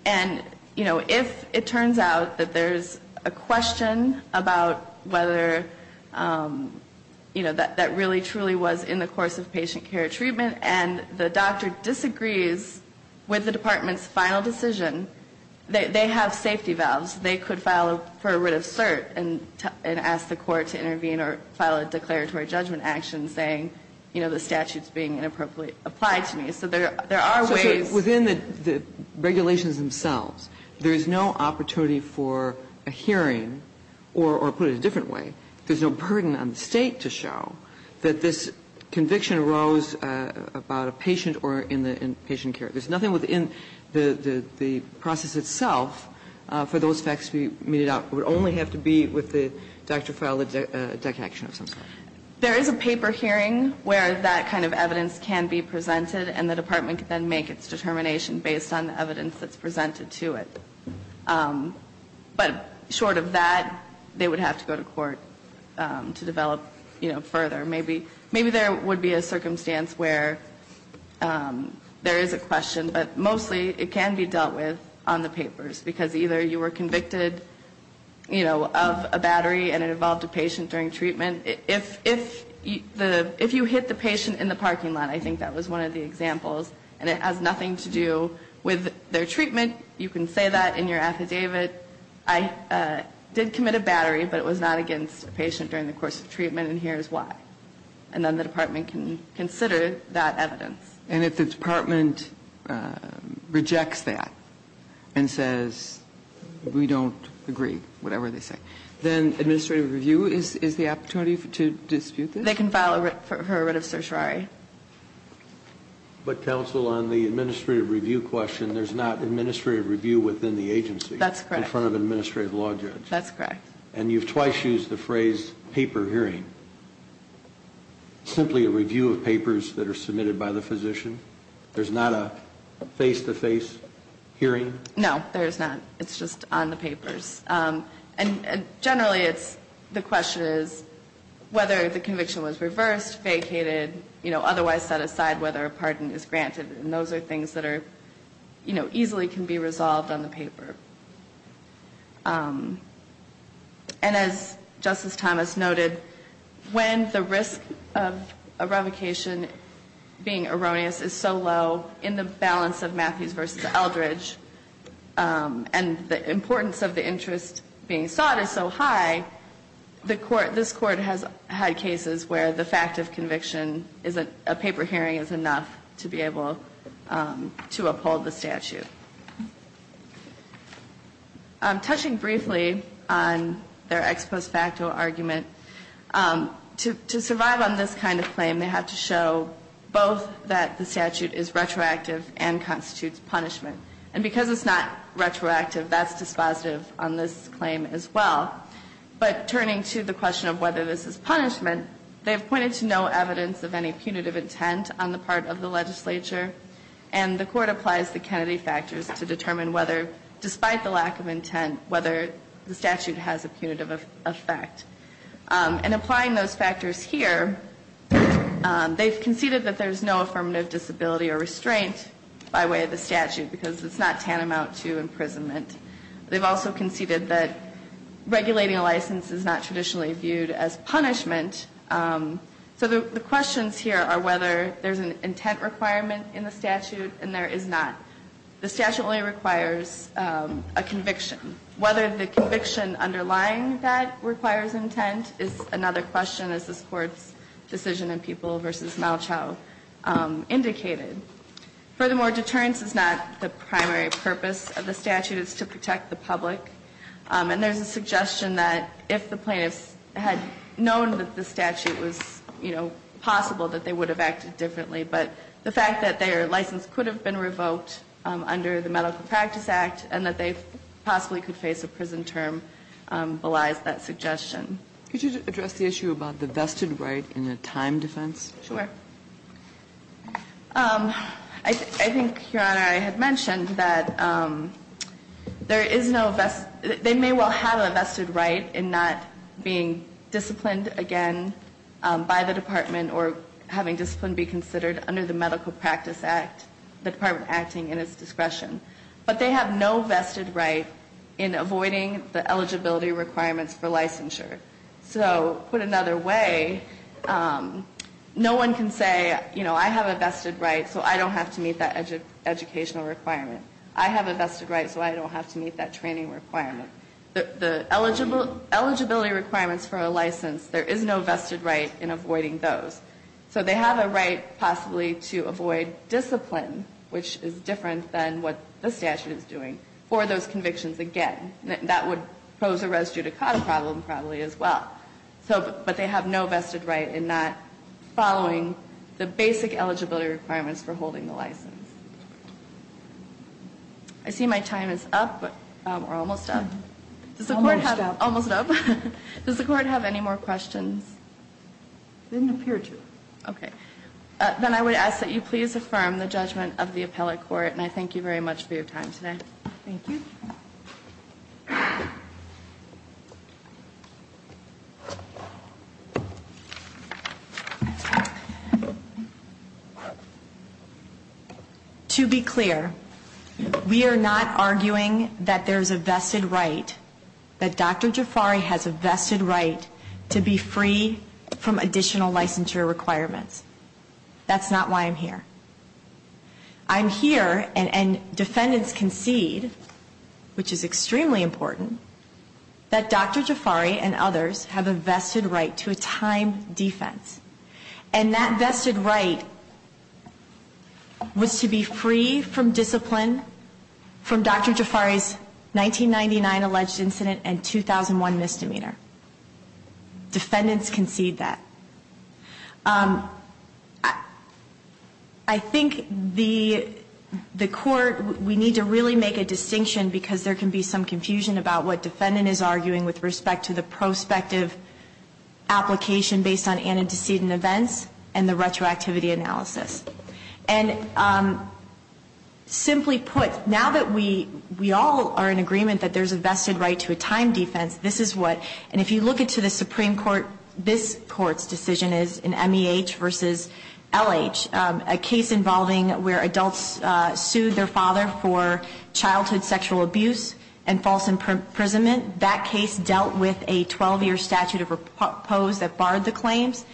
And, you know, if it turns out that there's a question about whether, you know, that really truly was in the course of patient care treatment, and the doctor disagrees with the Department's final decision, they have safety valves. They could file for a writ of cert and ask the Court to intervene or file a declaratory judgment action saying, you know, the statute's being inappropriately applied to me. So there are ways. So within the regulations themselves, there's no opportunity for a hearing, or put it a different way, there's no burden on the State to show that this conviction arose about a patient or in the patient care. There's nothing within the process itself for those facts to be meted out. It would only have to be with the doctor filing a declaration of some sort. There is a paper hearing where that kind of evidence can be presented, and the Department can then make its determination based on the evidence that's presented to it. But short of that, they would have to go to court to develop, you know, further. Maybe there would be a circumstance where there is a question, but mostly it can be dealt with on the papers, because either you were convicted, you know, of a battery and it involved a patient during treatment. If you hit the patient in the parking lot, I think that was one of the examples, and it has nothing to do with their treatment. If you were convicted, you can say that in your affidavit. I did commit a battery, but it was not against a patient during the course of treatment, and here's why. And then the Department can consider that evidence. And if the Department rejects that and says, we don't agree, whatever they say, then administrative review is the opportunity to dispute this? They can file a writ of certiorari. But, counsel, on the administrative review question, there's not administrative review within the agency? That's correct. In front of an administrative law judge? That's correct. And you've twice used the phrase, paper hearing. Simply a review of papers that are submitted by the physician? There's not a face-to-face hearing? No, there is not. It's just on the papers. And generally, the question is whether the conviction was reversed, vacated, otherwise set aside, whether a pardon is granted. And those are things that easily can be resolved on the paper. And as Justice Thomas noted, when the risk of a revocation being erroneous is so low, in the balance of Matthews v. Eldridge, and the importance of the interest being sought is so high, this Court has had cases where the fact of conviction, a paper hearing, is enough to be able to uphold the statute. Touching briefly on their ex post facto argument, to survive on this kind of claim, they have to show both that the statute is retroactive and constitutes punishment. And because it's not retroactive, that's dispositive on this claim as well. But turning to the question of whether this is punishment, they've pointed to no evidence of any punitive intent on the part of the legislature, and the Court applies the Kennedy factors to determine whether, despite the lack of intent, whether the statute has a punitive effect. And applying those factors here, they've conceded that there's no affirmative disability or restraint by way of the statute, because it's not tantamount to imprisonment. They've also conceded that regulating a license is not traditionally viewed as punishment. So the questions here are whether there's an intent requirement in the statute, and there is not. The statute only requires a conviction. Whether the conviction underlying that requires intent is another question, as this Court's decision in People v. Malchow indicated. Furthermore, deterrence is not the primary purpose of the statute. It's to protect the public. And there's a suggestion that if the plaintiffs had known that the statute was, you know, possible, that they would have acted differently. But the fact that their license could have been revoked under the Medical Practice Act and that they possibly could face a prison term belies that suggestion. Could you address the issue about the vested right in the time defense? I think, Your Honor, I had mentioned that there is no vested – they may well have a vested right in not being disciplined again by the Department or having discipline be considered under the Medical Practice Act, the Department acting in its discretion. But they have no vested right in avoiding the eligibility requirements for licensure. So, put another way, no one can say, you know, I have a vested right, so I don't have to meet that educational requirement. I have a vested right, so I don't have to meet that training requirement. The eligibility requirements for a license, there is no vested right in avoiding those. So they have a right possibly to avoid discipline, which is different than what the statute is doing, for those convictions again. That would pose a res judicata problem probably as well. But they have no vested right in not following the basic eligibility requirements for holding the license. I see my time is up, or almost up. Almost up. Almost up. Does the Court have any more questions? Didn't appear to. Okay. Then I would ask that you please affirm the judgment of the appellate court, and I thank you very much for your time today. Thank you. To be clear, we are not arguing that there is a vested right, that Dr. Jafari has a vested right to be free from additional licensure requirements. That's not why I'm here. I'm here, and defendants concede, which is extremely important, that Dr. Jafari and others have a vested right to a time defense. And that vested right was to be free from discipline, from Dr. Jafari's 1999 alleged incident and 2001 misdemeanor. Defendants concede that. I think the Court, we need to really make a distinction because there can be some confusion about what defendant is arguing with respect to the prospective application based on antecedent events and the retroactivity analysis. And simply put, now that we all are in agreement that there's a vested right to a time defense, this is what, and if you look into the Supreme Court, this Court's decision is an MEH versus LH, a case involving where adults sued their father for childhood sexual abuse and false imprisonment. That case dealt with a 12-year statute of repose that barred the claims.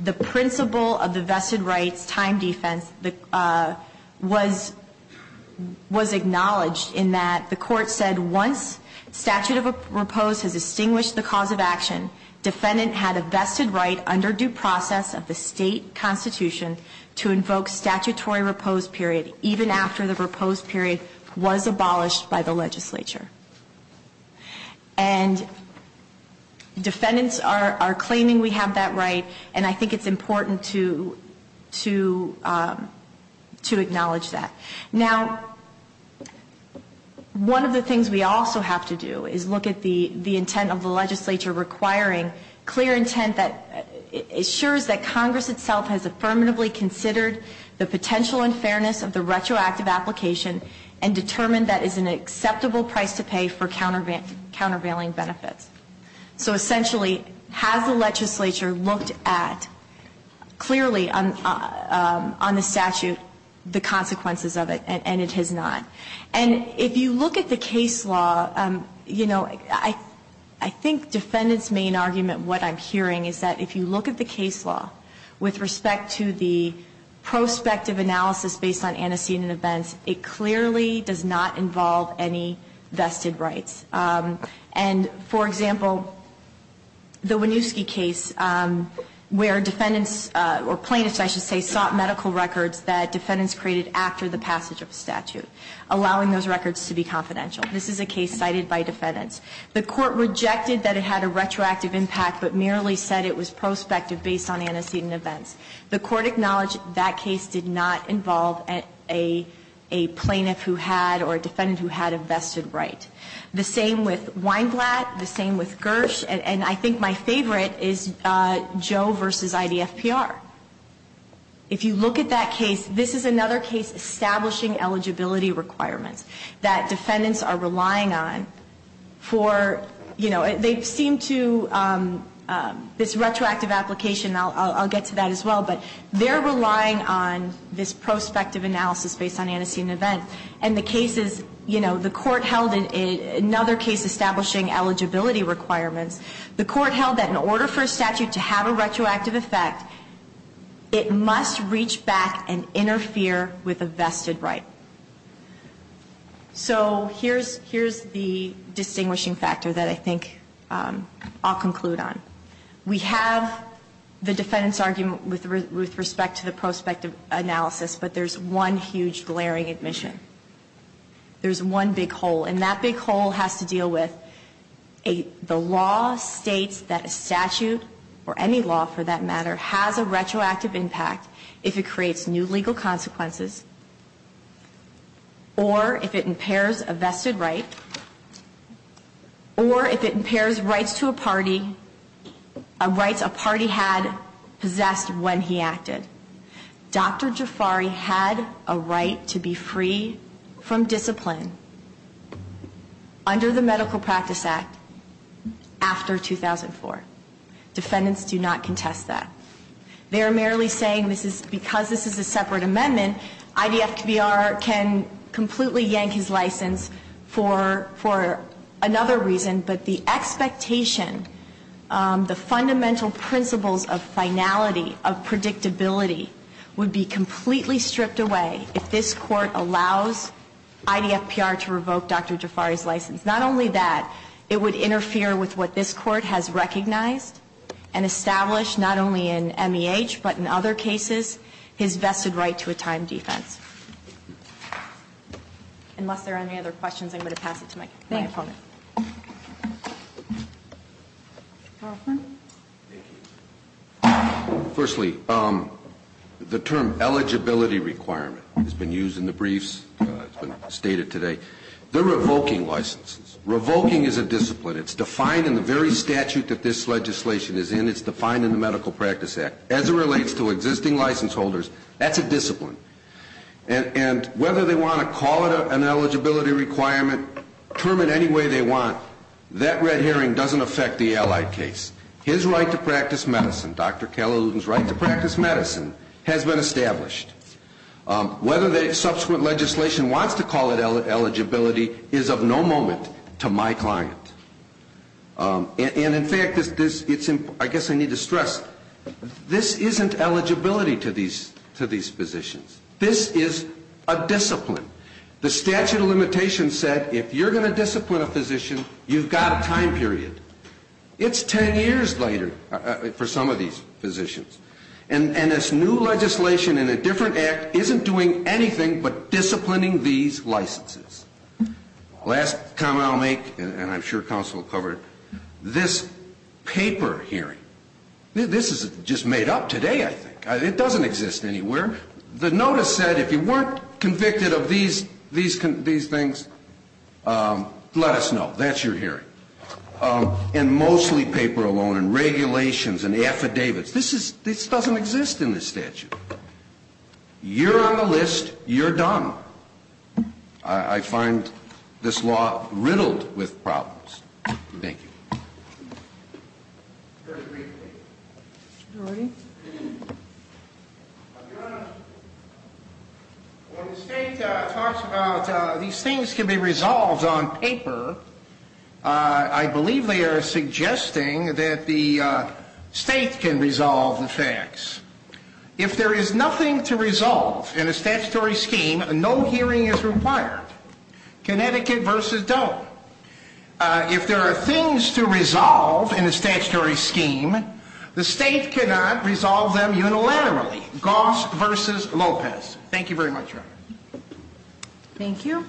The principle of the vested rights time defense was acknowledged in that the Court said once statute of repose has distinguished the cause of action, defendant had a vested right under due process of the state constitution to invoke statutory repose period even after the repose period was abolished by the legislature. And defendants are claiming we have that right, and I think it's important to acknowledge that. Now, one of the things we also have to do is look at the intent of the legislature requiring clear intent that assures that Congress itself has affirmatively considered the potential unfairness of the retroactive application and determined that is an acceptable price to pay for countervailing benefits. So essentially, has the legislature looked at clearly on the statute the consequences of it, and it has not. And if you look at the case law, you know, I think defendants' main argument, what I'm hearing is that if you look at the case law with respect to the prospective analysis based on antecedent events, it clearly does not involve any vested rights. And, for example, the Winooski case where defendants or plaintiffs, I should say, sought medical records that defendants created after the passage of the statute, allowing those records to be confidential. This is a case cited by defendants. The Court rejected that it had a retroactive impact, but merely said it was prospective based on antecedent events. The Court acknowledged that case did not involve a plaintiff who had or a defendant who had a vested right. The same with Weinglatt, the same with Gersh, and I think my favorite is Joe v. IDFPR. If you look at that case, this is another case establishing eligibility requirements that defendants are relying on for, you know, they seem to, this retroactive application, I'll get to that as well, but they're relying on this prospective analysis based on antecedent events. And the case is, you know, the Court held in another case establishing eligibility requirements, the Court held that in order for a statute to have a retroactive effect, it must reach back and interfere with a vested right. So here's the distinguishing factor that I think I'll conclude on. We have the defendant's argument with respect to the prospective analysis, but there's one huge glaring admission. There's one big hole, and that big hole has to deal with the law states that a statute or any law for that matter has a retroactive impact if it creates new legal consequences or if it impairs a vested right or if it impairs rights to a party, rights a party had possessed when he acted. Dr. Jafari had a right to be free from discipline under the Medical Practice Act after 2004. Defendants do not contest that. They're merely saying because this is a separate amendment, IDFPR can completely yank his license for another reason, but the expectation, the fundamental principles of finality, of predictability would be completely stripped away if this Court allows IDFPR to revoke Dr. Jafari's license. Not only that, it would interfere with what this Court has recognized and established not only in MEH but in other cases, his vested right to a time defense. Unless there are any other questions, I'm going to pass it to my opponent. Thank you. Firstly, the term eligibility requirement has been used in the briefs. It's been stated today. They're revoking licenses. Revoking is a discipline. It's defined in the very statute that this legislation is in. It's defined in the Medical Practice Act. As it relates to existing license holders, that's a discipline. And whether they want to call it an eligibility requirement, term it any way they want, that red herring doesn't affect the allied case. His right to practice medicine, Dr. Kalaludin's right to practice medicine, has been established. Whether the subsequent legislation wants to call it eligibility is of no moment to my client. And in fact, I guess I need to stress, this isn't eligibility to these physicians. This is a discipline. The statute of limitations said if you're going to discipline a physician, you've got a time period. It's ten years later for some of these physicians. And this new legislation in a different act isn't doing anything but disciplining these licenses. Last comment I'll make, and I'm sure counsel will cover it. This paper hearing, this is just made up today, I think. It doesn't exist anywhere. The notice said if you weren't convicted of these things, let us know. That's your hearing. And mostly paper alone and regulations and affidavits. This doesn't exist in this statute. You're on the list. You're done. I find this law riddled with problems. Thank you. When the state talks about these things can be resolved on paper, I believe they are suggesting that the state can resolve the facts. If there is nothing to resolve in a statutory scheme, no hearing is required. Connecticut v. Doe. If there are things to resolve in a statutory scheme, the state cannot resolve them unilaterally. Goss v. Lopez. Thank you very much, Your Honor. Thank you.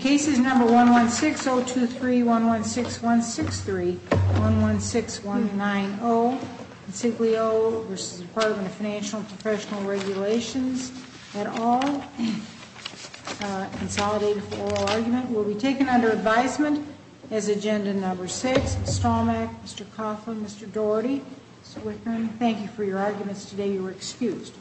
Cases number 116023116163, 116190. Insiglio v. Department of Financial and Professional Regulations et al. Consolidated for oral argument. Will be taken under advisement as agenda number six. Stomach, Mr. Coughlin, Mr. Doherty, Mr. Whitman, thank you for your arguments today. You are excused.